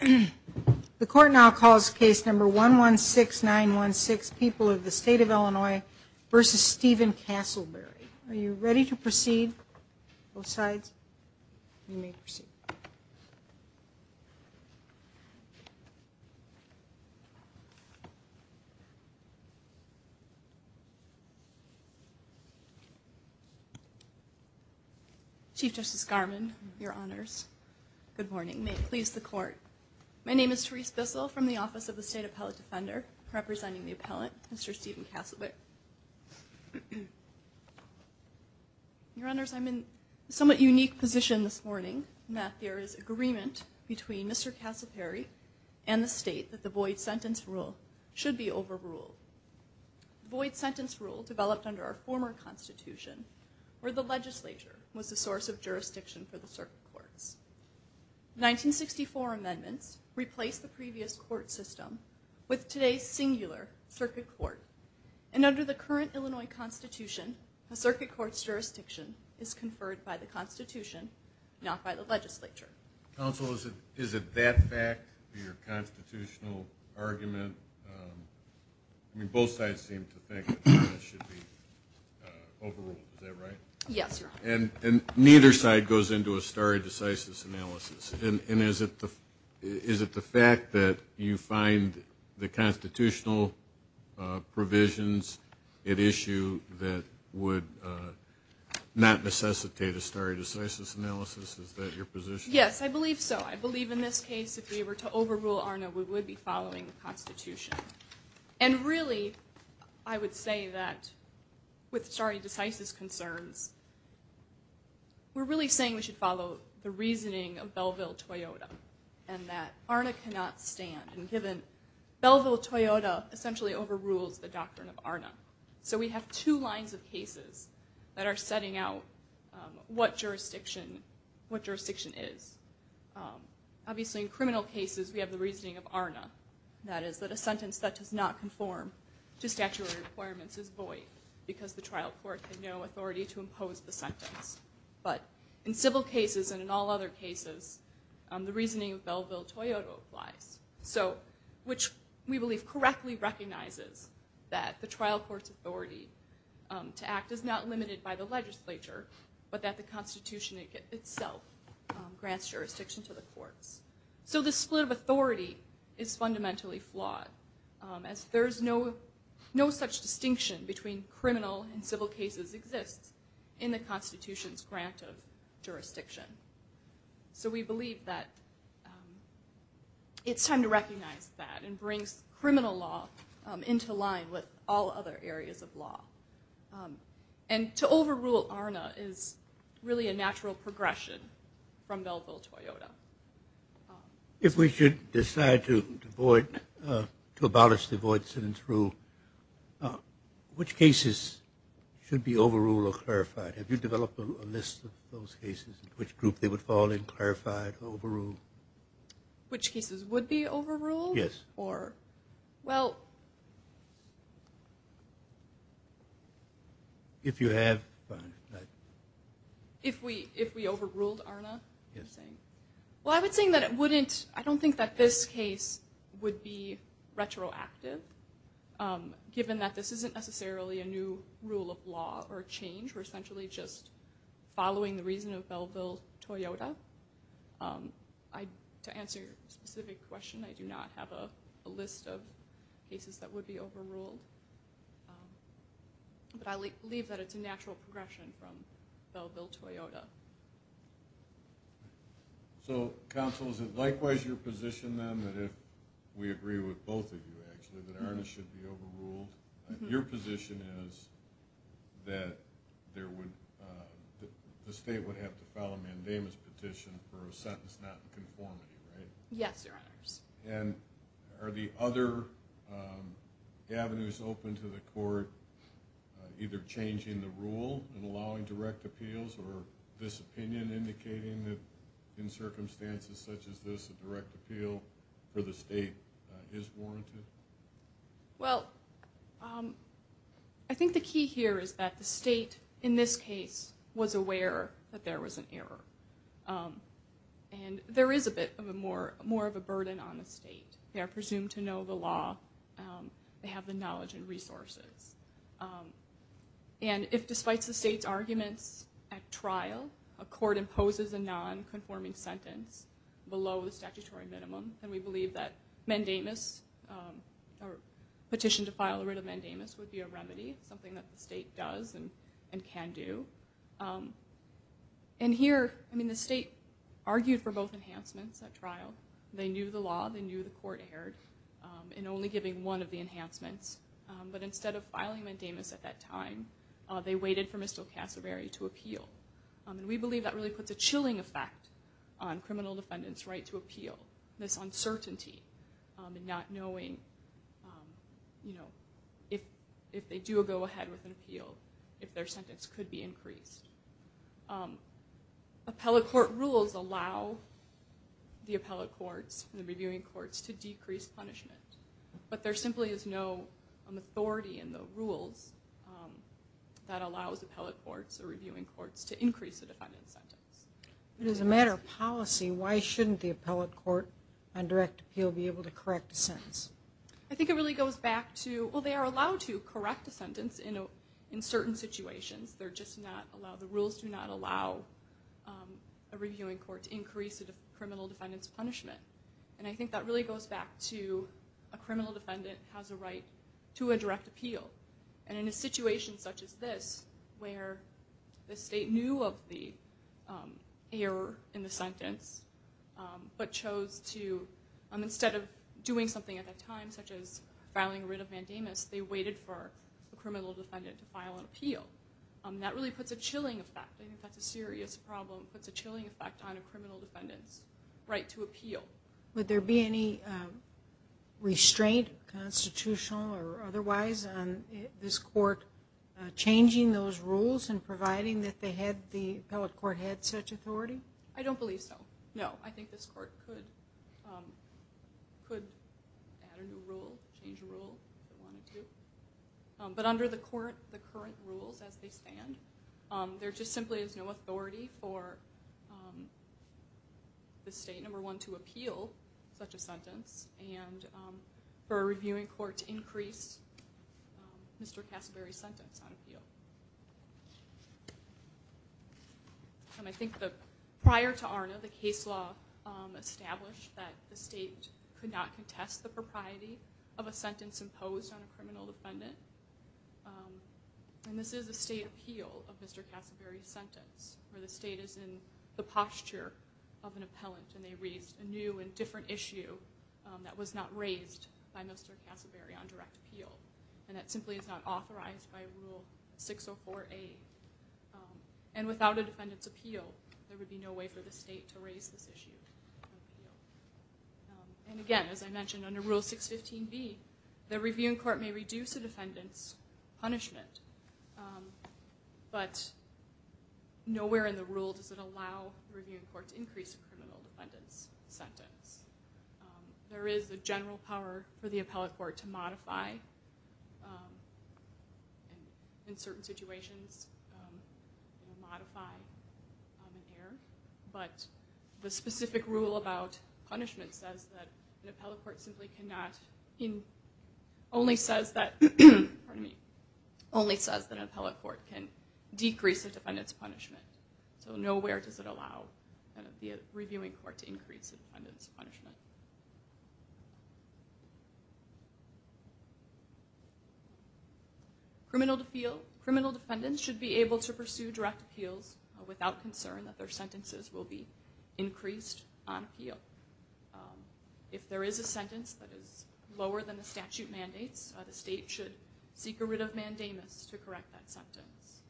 The court now calls case number 116916, People of the State of Illinois v. Stephen Castleberry. Are you ready to proceed? Both sides? You may proceed. Chief Justice Garmon, your honors. Good morning. May it please the court. My name is Therese Bissell from the Office of the State Appellate Defender, representing the appellant, Mr. Stephen Castleberry. Your honors, I'm in a somewhat unique position this morning in that there is agreement between Mr. Castleberry and the state that the void sentence rule should be overruled. The void sentence rule developed under our former Constitution, where the legislature was the source of jurisdiction for the circuit courts. The 1964 amendments replaced the previous court system with today's singular circuit court. And under the current Illinois Constitution, a circuit court's jurisdiction is conferred by the Constitution, not by the legislature. Counsel, is it that fact, your constitutional argument? I mean, both sides seem to think that the void sentence should be overruled. Is that right? Yes, your honors. And neither side goes into a stare decisis analysis. And is it the fact that you find the constitutional provisions at issue that would not necessitate a stare decisis analysis? Is that your position? Yes, I believe so. I believe in this case, if we were to overrule ARNA, we would be following the Constitution. And really, I would say that with stare decisis concerns, we're really saying we should follow the reasoning of Belleville-Toyota, and that ARNA cannot stand. Belleville-Toyota essentially overrules the doctrine of ARNA. So we have two lines of cases that are setting out what jurisdiction is. Obviously, in criminal cases, we have the reasoning of ARNA. That is that a sentence that does not conform to statutory requirements is void because the trial court had no authority to impose the sentence. But in civil cases and in all other cases, the reasoning of Belleville-Toyota applies. So, which we believe correctly recognizes that the trial court's authority to act is not limited by the legislature, but that the Constitution itself grants jurisdiction to the courts. So the split of authority is fundamentally flawed, as there is no such distinction between criminal and civil cases exists in the Constitution's grant of jurisdiction. So we believe that it's time to recognize that and bring criminal law into line with all other areas of law. And to overrule ARNA is really a natural progression from Belleville-Toyota. If we should decide to abolish the void sentence rule, which cases should be overruled or clarified? Have you developed a list of those cases, which group they would fall in, clarified, overruled? Which cases would be overruled? Yes. Or, well... If you have, fine. If we overruled ARNA? Yes. Well, I would say that it wouldn't, I don't think that this case would be retroactive, given that this isn't necessarily a new rule of law or change. We're essentially just following the reason of Belleville-Toyota. To answer your specific question, I do not have a list of cases that would be overruled. But I believe that it's a natural progression from Belleville-Toyota. So, counsel, is it likewise your position, then, that if we agree with both of you, actually, that ARNA should be overruled? Your position is that the state would have to file a mandamus petition for a sentence not in conformity, right? Yes, Your Honors. And are the other avenues open to the court, either changing the rule and allowing direct appeals, or this opinion indicating that in circumstances such as this, a direct appeal for the state is warranted? Well, I think the key here is that the state, in this case, was aware that there was an error. And there is a bit more of a burden on the state. They are presumed to know the law. They have the knowledge and resources. And if, despite the state's arguments at trial, a court imposes a non-conforming sentence below the statutory minimum, then we believe that mandamus, or petition to file a writ of mandamus, would be a remedy, something that the state does and can do. And here, I mean, the state argued for both enhancements at trial. They knew the law. They knew the court erred in only giving one of the enhancements. But instead of filing mandamus at that time, they waited for Mr. Cassavary to appeal. And we believe that really puts a chilling effect on criminal defendants' right to appeal, this uncertainty and not knowing, you know, if they do a go-ahead with an appeal, if their sentence could be increased. Appellate court rules allow the appellate courts and the reviewing courts to decrease punishment. But there simply is no authority in the rules that allows appellate courts or reviewing courts to increase a defendant's sentence. But as a matter of policy, why shouldn't the appellate court on direct appeal be able to correct a sentence? I think it really goes back to, well, they are allowed to correct a sentence in certain situations. They're just not allowed, the rules do not allow a reviewing court to increase a criminal defendant's punishment. And I think that really goes back to a criminal defendant has a right to a direct appeal. And in a situation such as this, where the state knew of the error in the sentence, but chose to, instead of doing something at that time, such as filing a writ of mandamus, they waited for a criminal defendant to file an appeal. That really puts a chilling effect, I think that's a serious problem, puts a chilling effect on a criminal defendant's right to appeal. Would there be any restraint, constitutional or otherwise, on this court changing those rules and providing that the appellate court had such authority? I don't believe so, no. I think this court could add a new rule, change a rule if they wanted to. But under the current rules as they stand, there just simply is no authority for the state, number one, to appeal such a sentence, and for a reviewing court to increase Mr. Cassaberry's sentence on appeal. And I think that prior to ARNA, the case law established that the state could not contest the propriety of a sentence imposed on a criminal defendant. And this is a state appeal of Mr. Cassaberry's sentence, where the state is in the posture of an appellant, and they raised a new and different issue that was not raised by Mr. Cassaberry on direct appeal, and that simply is not authorized by Rule 604A. And without a defendant's appeal, there would be no way for the state to raise this issue on appeal. And again, as I mentioned, under Rule 615B, the reviewing court may reduce a defendant's punishment, but nowhere in the rule does it allow the reviewing court to increase a criminal defendant's sentence. There is a general power for the appellate court to modify, and in certain situations it will modify on the air, but the specific rule about punishment says that an appellate court simply cannot, only says that an appellate court can decrease a defendant's punishment. So nowhere does it allow the reviewing court to increase a defendant's punishment. Criminal defendants should be able to pursue direct appeals without concern that their sentences will be increased on appeal. If there is a sentence that is lower than the statute mandates, the state should seek a writ of mandamus to correct that sentence.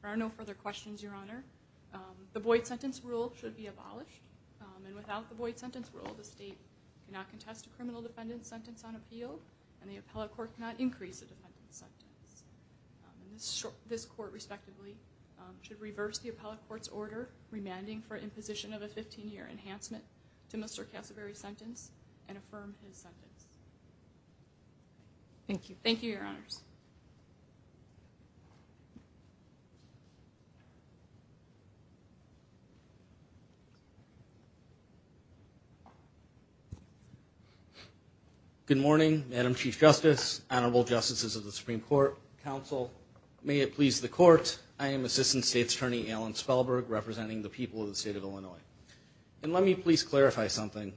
There are no further questions, Your Honor. The Boyd Sentence Rule should be abolished, and without the Boyd Sentence Rule, the state cannot contest a criminal defendant's sentence on appeal, and the appellate court cannot increase a defendant's sentence. This court, respectively, should reverse the appellate court's order remanding for imposition of a 15-year enhancement to Mr. Cassaberry's sentence and affirm his sentence. Thank you. Thank you, Your Honors. Good morning, Madam Chief Justice, honorable justices of the Supreme Court, counsel, may it please the Court, I am Assistant State's Attorney Alan Spellberg, representing the people of the state of Illinois. And let me please clarify something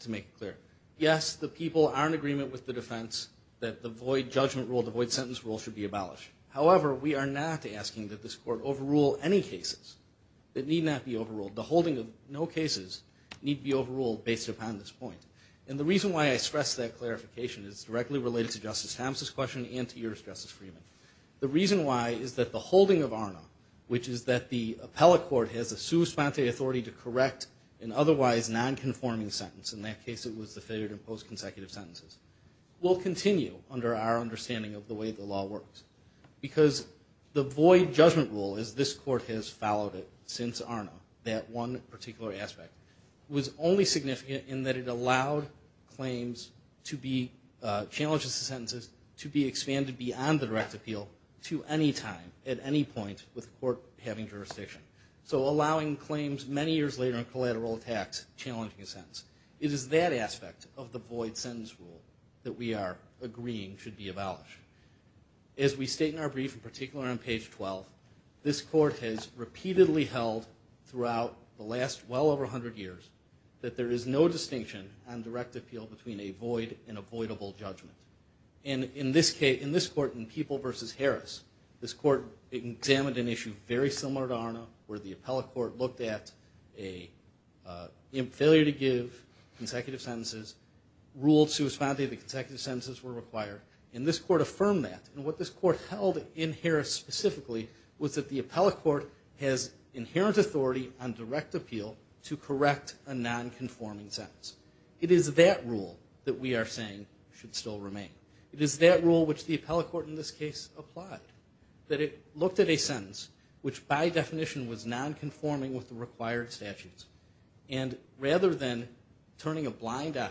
to make it clear. Yes, the people are in agreement with the defense that the Boyd Judgment Rule, the Boyd Sentence Rule, should be abolished. However, we are not asking that this court overrule any cases that need not be overruled. The holding of no cases need be overruled based upon this point. And the reason why I stress that clarification is directly related to Justice Thompson's question and to yours, Justice Freeman. The reason why is that the holding of ARNA, which is that the appellate court has a sui sponte authority to correct an otherwise nonconforming sentence, in that case it was the failure to impose consecutive sentences, will continue under our understanding of the way the law works. Because the Boyd Judgment Rule, as this court has followed it since ARNA, that one particular aspect, was only significant in that it allowed claims to be, challenges to sentences, to be expanded beyond the direct appeal to any time, at any point, with the court having jurisdiction. So allowing claims many years later in collateral attacks challenging a sentence. It is that aspect of the Boyd Sentence Rule that we are agreeing should be abolished. As we state in our brief, in particular on page 12, this court has repeatedly held throughout the last well over 100 years, that there is no distinction on direct appeal between a void and avoidable judgment. And in this case, in this court, in People v. Harris, this court examined an issue very similar to ARNA, where the appellate court looked at a failure to give consecutive sentences, ruled sui sponte that consecutive sentences were required, and this court affirmed that. And what this court held in Harris specifically was that the appellate court has inherent authority on direct appeal to correct a non-conforming sentence. It is that rule that we are saying should still remain. It is that rule which the appellate court in this case applied. That it looked at a sentence which by definition was non-conforming with the required statutes, and rather than turning a blind eye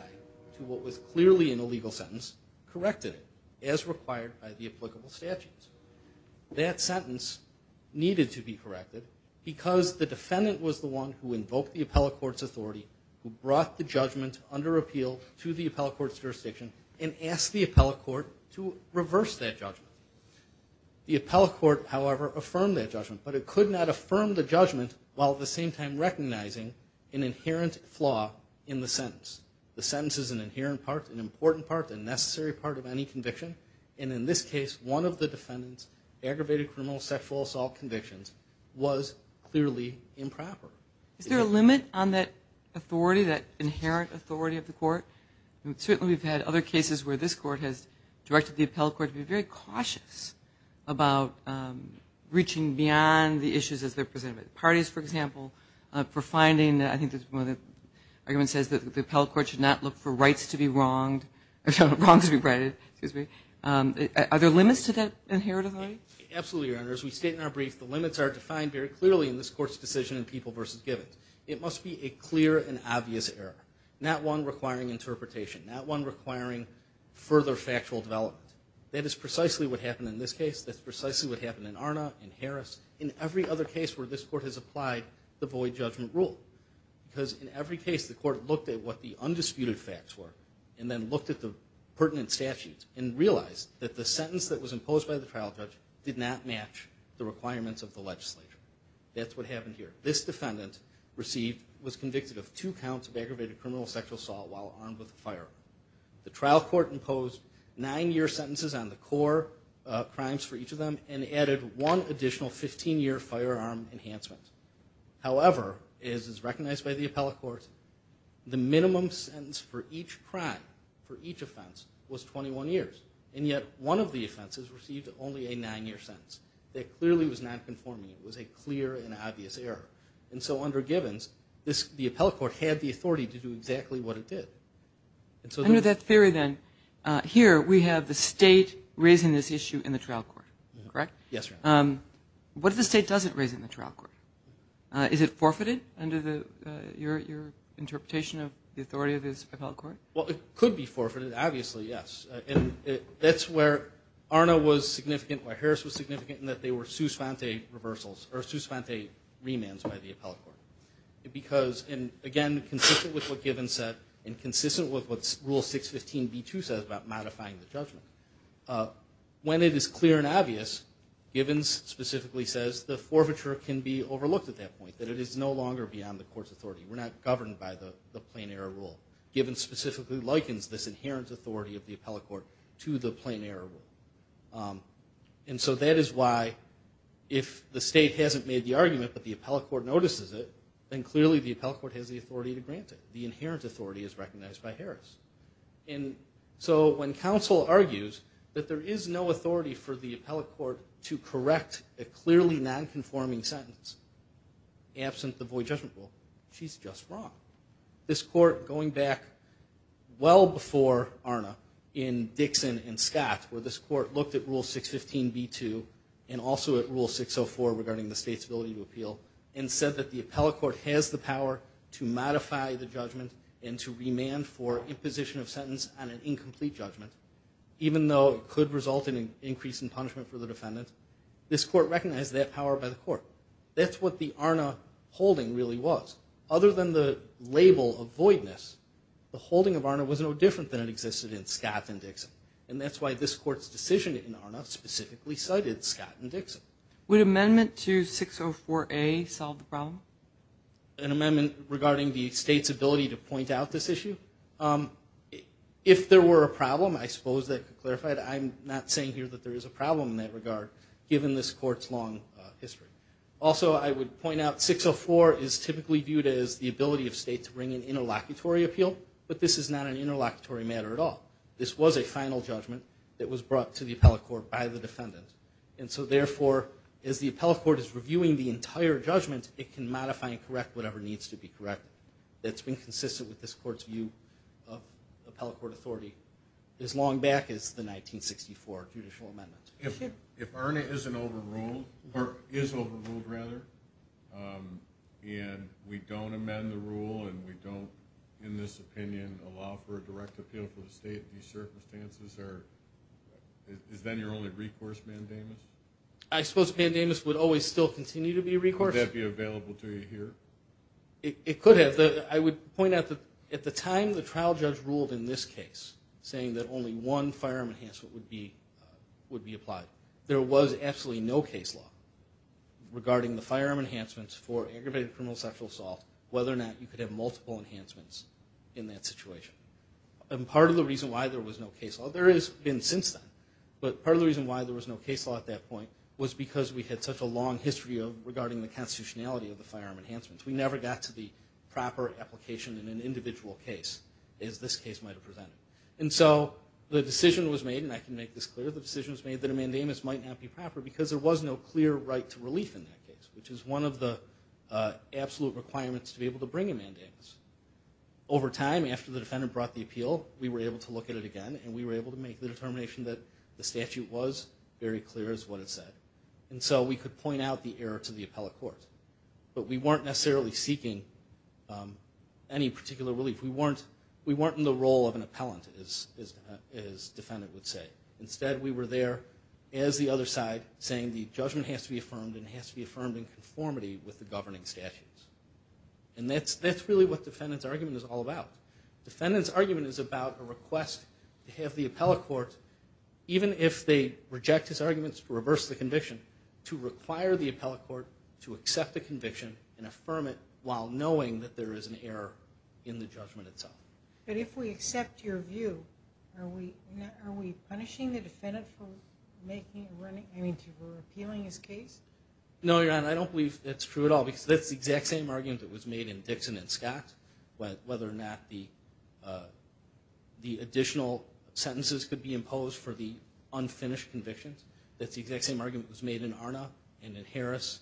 to what was clearly an illegal sentence, corrected it as required by the applicable statutes. That sentence needed to be corrected because the defendant was the one who invoked the appellate court's authority, who brought the judgment under appeal to the appellate court's jurisdiction, and asked the appellate court to reverse that judgment. The appellate court, however, affirmed that judgment, but it could not affirm the judgment while at the same time recognizing an inherent flaw in the sentence. The sentence is an inherent part, an important part, a necessary part of any conviction, and in this case, one of the defendant's aggravated criminal sexual assault convictions was clearly improper. Is there a limit on that authority, that inherent authority of the court? Certainly we've had other cases where this court has directed the appellate court to be very cautious about reaching beyond the issues as they're presented. Parties, for example, for finding, I think this is one of the arguments, says that the appellate court should not look for rights to be wronged, wrongs to be righted, excuse me. Are there limits to that inherent authority? Absolutely, Your Honor, as we state in our brief, the limits are defined very clearly in this court's decision in People v. Givens. It must be a clear and obvious error, not one requiring interpretation, not one requiring further factual development. That is precisely what happened in this case, that's precisely what happened in Arna, in Harris, in every other case where this court has applied the void judgment rule, because in every case the court looked at what the undisputed facts were, and then looked at the pertinent statutes, and realized that the sentence that was imposed by the trial judge did not match the requirements of the legislature. That's what happened here. This defendant was convicted of two counts of aggravated criminal sexual assault while armed with a firearm. The trial court imposed nine-year sentences on the core crimes for each of them, and added one additional 15-year firearm enhancement. However, as is recognized by the appellate court, the minimum sentence for each crime, for each offense, was 21 years, and yet one of the offenses received only a nine-year sentence. That clearly was nonconforming. It was a clear and obvious error. And so under Givens, the appellate court had the authority to do exactly what it did. I know that theory then. Here we have the state raising this issue in the trial court, correct? Yes, Your Honor. What if the state doesn't raise it in the trial court? Is it forfeited under your interpretation of the authority of this appellate court? Well, it could be forfeited, obviously, yes. And that's where Arna was significant, where Harris was significant, in that they were Sus fonte reversals, or Sus fonte remands by the appellate court. Because, again, consistent with what Givens said, and consistent with what Rule 615b2 says about modifying the judgment, when it is clear and obvious, Givens specifically says the forfeiture can be overlooked at that point, that it is no longer beyond the court's authority. We're not governed by the plain error rule. Givens specifically likens this inherent authority of the appellate court to the plain error rule. And so that is why, if the state hasn't made the argument, but the appellate court notices it, then clearly the appellate court has the authority to grant it. The inherent authority is recognized by Harris. And so when counsel argues that there is no authority for the appellate court to correct a clearly non-conforming sentence absent the void judgment rule, she's just wrong. This court, going back well before ARNA, in Dixon and Scott, where this court looked at Rule 615b2 and also at Rule 604 regarding the state's ability to appeal, and said that the appellate court has the power to modify the judgment and to remand for imposition of sentence on an incomplete judgment, even though it could result in an increase in punishment for the defendant, this court recognized that power by the court. That's what the ARNA holding really was. Other than the label of voidness, the holding of ARNA was no different than it existed in Scott and Dixon. And that's why this court's decision in ARNA specifically cited Scott and Dixon. Would amendment to 604a solve the problem? An amendment regarding the state's ability to point out this issue? If there were a problem, I suppose that could clarify it. I'm not saying here that there is a problem in that regard, given this court's long history. Also, I would point out that 604 is typically viewed as the ability of state to bring an interlocutory appeal, but this is not an interlocutory matter at all. This was a final judgment that was brought to the appellate court by the defendant. And so therefore, as the appellate court is reviewing the entire judgment, it can modify and correct whatever needs to be corrected. That's been consistent with this court's view of appellate court authority as long back as the 1964 judicial amendment. If ARNA isn't overruled, or is overruled rather, and we don't amend the rule, and we don't, in this opinion, allow for a direct appeal for the state, these circumstances are... Is then your only recourse, Mandamus? I suppose Mandamus would always still continue to be a recourse. Would that be available to you here? It could have. I would point out that at the time the trial judge ruled in this case saying that only one firearm enhancement would be applied, there was absolutely no case law regarding the firearm enhancements for aggravated criminal sexual assault, whether or not you could have multiple enhancements in that situation. And part of the reason why there was no case law, there has been since then, but part of the reason why there was no case law at that point was because we had such a long history regarding the constitutionality of the firearm enhancements. We never got to the proper application in an individual case as this case might have presented. And so the decision was made, and I can make this clear, the decision was made that a Mandamus might not be proper because there was no clear right to relief in that case, which is one of the absolute requirements to be able to bring a Mandamus. Over time, after the defendant brought the appeal, we were able to look at it again and we were able to make the determination that the statute was very clear as what it said. And so we could point out the error to the appellate court. But we weren't necessarily seeking any particular relief. We weren't in the role of an appellant, as the defendant would say. Instead, we were there as the other side saying the judgment has to be affirmed and it has to be affirmed in conformity with the governing statutes. And that's really what the defendant's argument is all about. The defendant's argument is about a request to have the appellate court, even if they reject his arguments to reverse the conviction, to require the appellate court to accept the conviction and affirm it while knowing that there is an error in the judgment itself. But if we accept your view, are we punishing the defendant for making or appealing his case? No, Your Honor, I don't believe that's true at all, because that's the exact same argument that was made in Dixon and Scott, whether or not the additional sentences could be imposed for the unfinished convictions. That's the exact same argument that was made in Arna and in Harris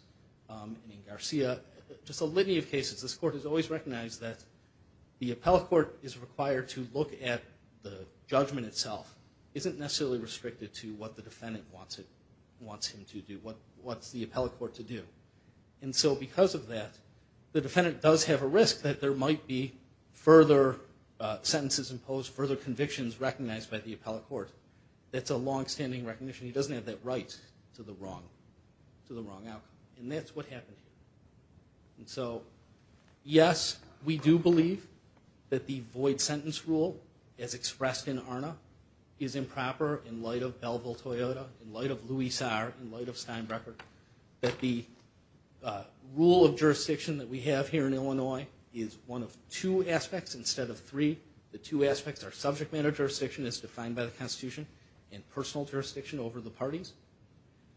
and in Garcia. Just a litany of cases, this Court has always recognized that the appellate court is required to look at the judgment itself. It isn't necessarily restricted to what the defendant wants him to do, what's the appellate court to do. And so because of that, the defendant does have a risk that there might be further sentences imposed, further convictions recognized by the appellate court. That's a long-standing recognition. He doesn't have that right to the wrong outcome. And that's what happened. And so yes, we do believe that the void sentence rule as expressed in Arna is improper in light of Belville-Toyota, in light of Louis Saar, in light of Steinbrecher, that the rule of jurisdiction that we have here in Illinois is one of two aspects instead of three. The two aspects are subject matter jurisdiction as defined by the Constitution and personal jurisdiction over the parties.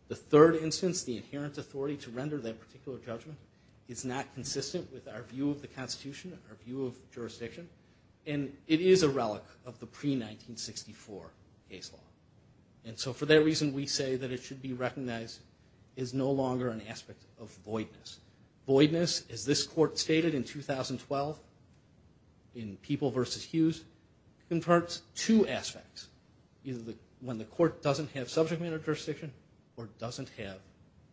The third instance, the inherent authority to render that particular judgment, is not consistent with our view of the Constitution, our view of jurisdiction, and it is a relic of the pre-1964 case law. And so for that reason, we say that it should be recognized as no longer an aspect of voidness. Voidness as this court stated in 2012 in People v. Hughes, converts two aspects. When the court doesn't have subject matter jurisdiction or doesn't have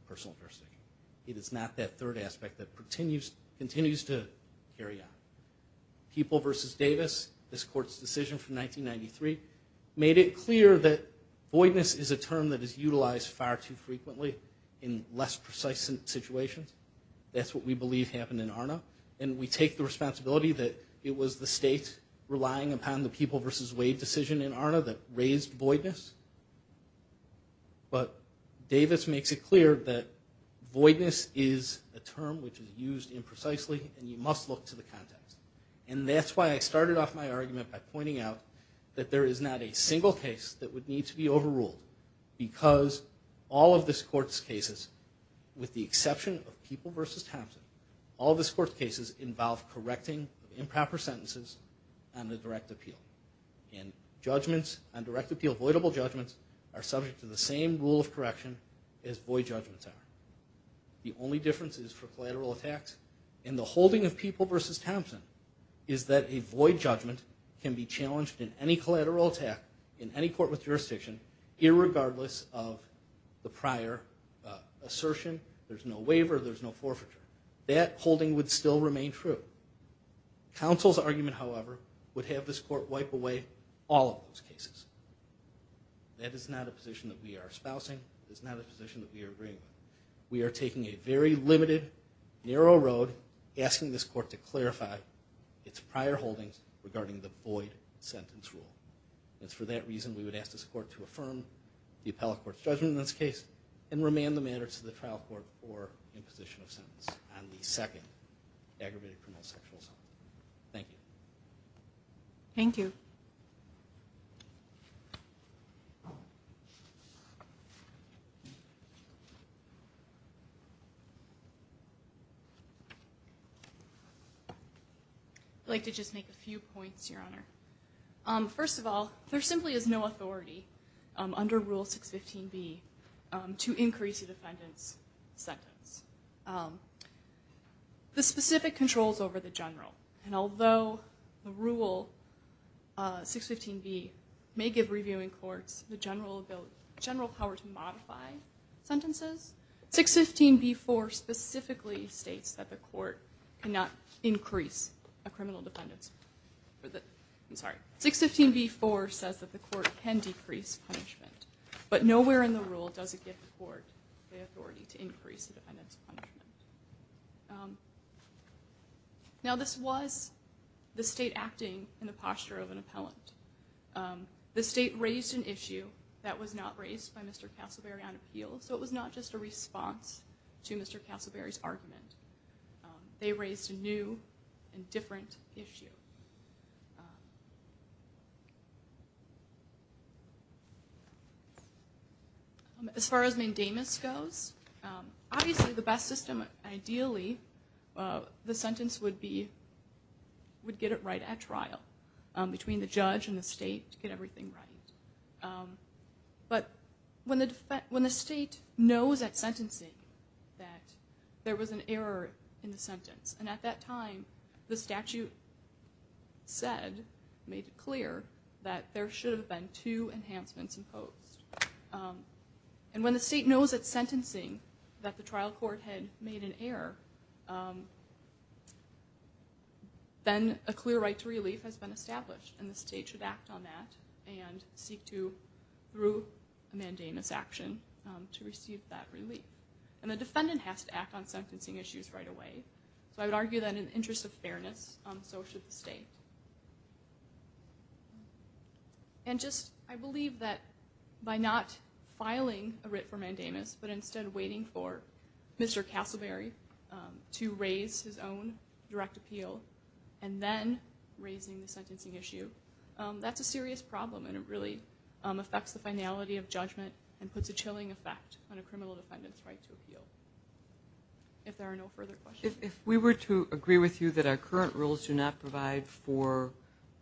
personal jurisdiction. It is not that third aspect that continues to carry on. People v. Davis, this court's decision from 1993, made it clear that voidness is a term that is utilized far too frequently in less precise situations. That's what we believe happened in Arna, and we take the responsibility that it was the state relying upon the People v. Wade decision in Arna that raised But Davis makes it clear that voidness is a term which is used imprecisely and you must look to the context. And that's why I started off my argument by pointing out that there is not a single case that would need to be overruled because all of this court's cases, with the exception of People v. Thompson, all of this court's cases involve correcting improper sentences on the direct appeal. And judgments on direct appeal, avoidable judgments, are subject to the same rule of correction as void judgments are. The only difference is for collateral attacks, and the holding of People v. Thompson is that a void judgment can be challenged in any collateral attack in any court with jurisdiction irregardless of the prior assertion. There's no waiver, there's no forfeiture. That holding would still remain true. Counsel's argument, however, would have this court wipe away all of those cases. That is not a position that we are espousing, it is not a position that we are agreeing with. We are taking a very limited, narrow road asking this court to clarify its prior holdings regarding the void sentence rule. It's for that reason we would ask this court to affirm the appellate court's judgment in this case and remand the matters to the trial court for imposition of sentence on the second aggravated criminal sexual assault. Thank you. Thank you. I'd like to just make a few points, Your Honor. First of all, there simply is no authority under Rule 615B to increase the defendant's sentence. The specific controls over the general, and although the rule 615B may give reviewing courts the general power to modify sentences, 615B4 specifically states that the court cannot increase a criminal defendant's I'm sorry, 615B4 says that the court can decrease punishment, but nowhere in the rule does it give the court the authority to increase the defendant's punishment. Now this was the state acting in the posture of an appellant. The state raised an issue that was not raised by Mr. Castleberry on appeal, so it was not just a response to Mr. Castleberry's argument. They raised a new and different issue. As far as mandamus goes, obviously the best system, ideally, the sentence would be would get it right at trial between the judge and the state to get everything right. But when the state knows at sentencing that there was an error in the sentence, and at that time the statute said, made it clear, that there should have been two enhancements imposed. And when the state knows at sentencing that the trial court had made an error, then a clear right to relief has been established, and the state should act on that and seek to, through a mandamus action, to receive that relief. And the defendant has to act on sentencing issues right away. So I would argue that in the interest of fairness, so should the state. I believe that by not filing a writ for mandamus, but instead waiting for Mr. Castleberry to raise his own direct appeal, and then raising the sentencing issue, that's a serious problem, and it really affects the finality of judgment, and puts a chilling effect on a criminal defendant's right to appeal. If there are no further questions. If we were to agree with you that our current rules do not provide for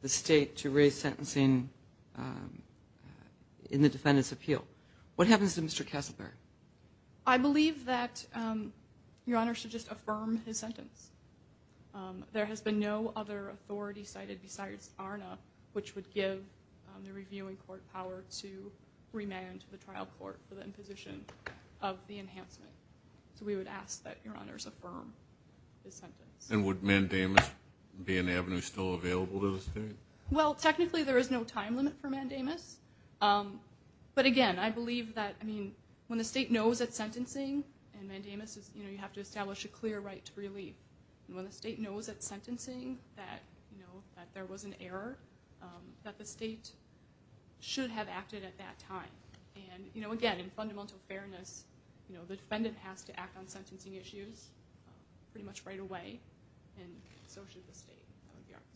the state to raise sentencing in the defendant's appeal, what happens to Mr. Castleberry? I believe that Your Honor should just affirm his sentence. There has been no other authority cited besides ARNA, which would give the reviewing court power to remand the trial court for the imposition of the enhancement. So we would ask that Your Honor affirm his sentence. And would mandamus be an avenue still available to the state? Well, technically there is no time limit for mandamus, but again, I believe that, I mean, when the state knows it's sentencing, and mandamus is, you know, you have to establish a clear right to relief. When the state knows it's sentencing, that, you know, that there was an error, that the state should have acted at that time. And, you know, again, in fundamental fairness, you know, the defendant has to act on sentencing issues pretty much right away, and so should the state. That would be our position.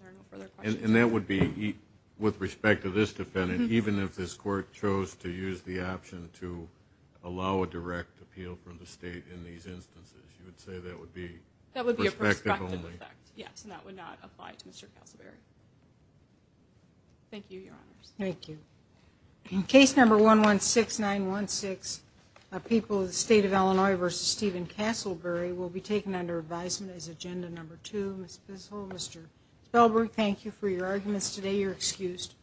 Are there no further questions? And that would be, with respect to this defendant, even if this court chose to use the option to allow a direct appeal from the state in these instances, you would say that would be perspective only? That would be a perspective effect, yes. And that would not apply to Mr. Castleberry. Thank you, Your Honors. Thank you. Case number 116916, People of the State of Illinois v. Stephen Castleberry, will be referred to Ms. Bissell and Mr. Felberg. Thank you for your arguments today. You're excused.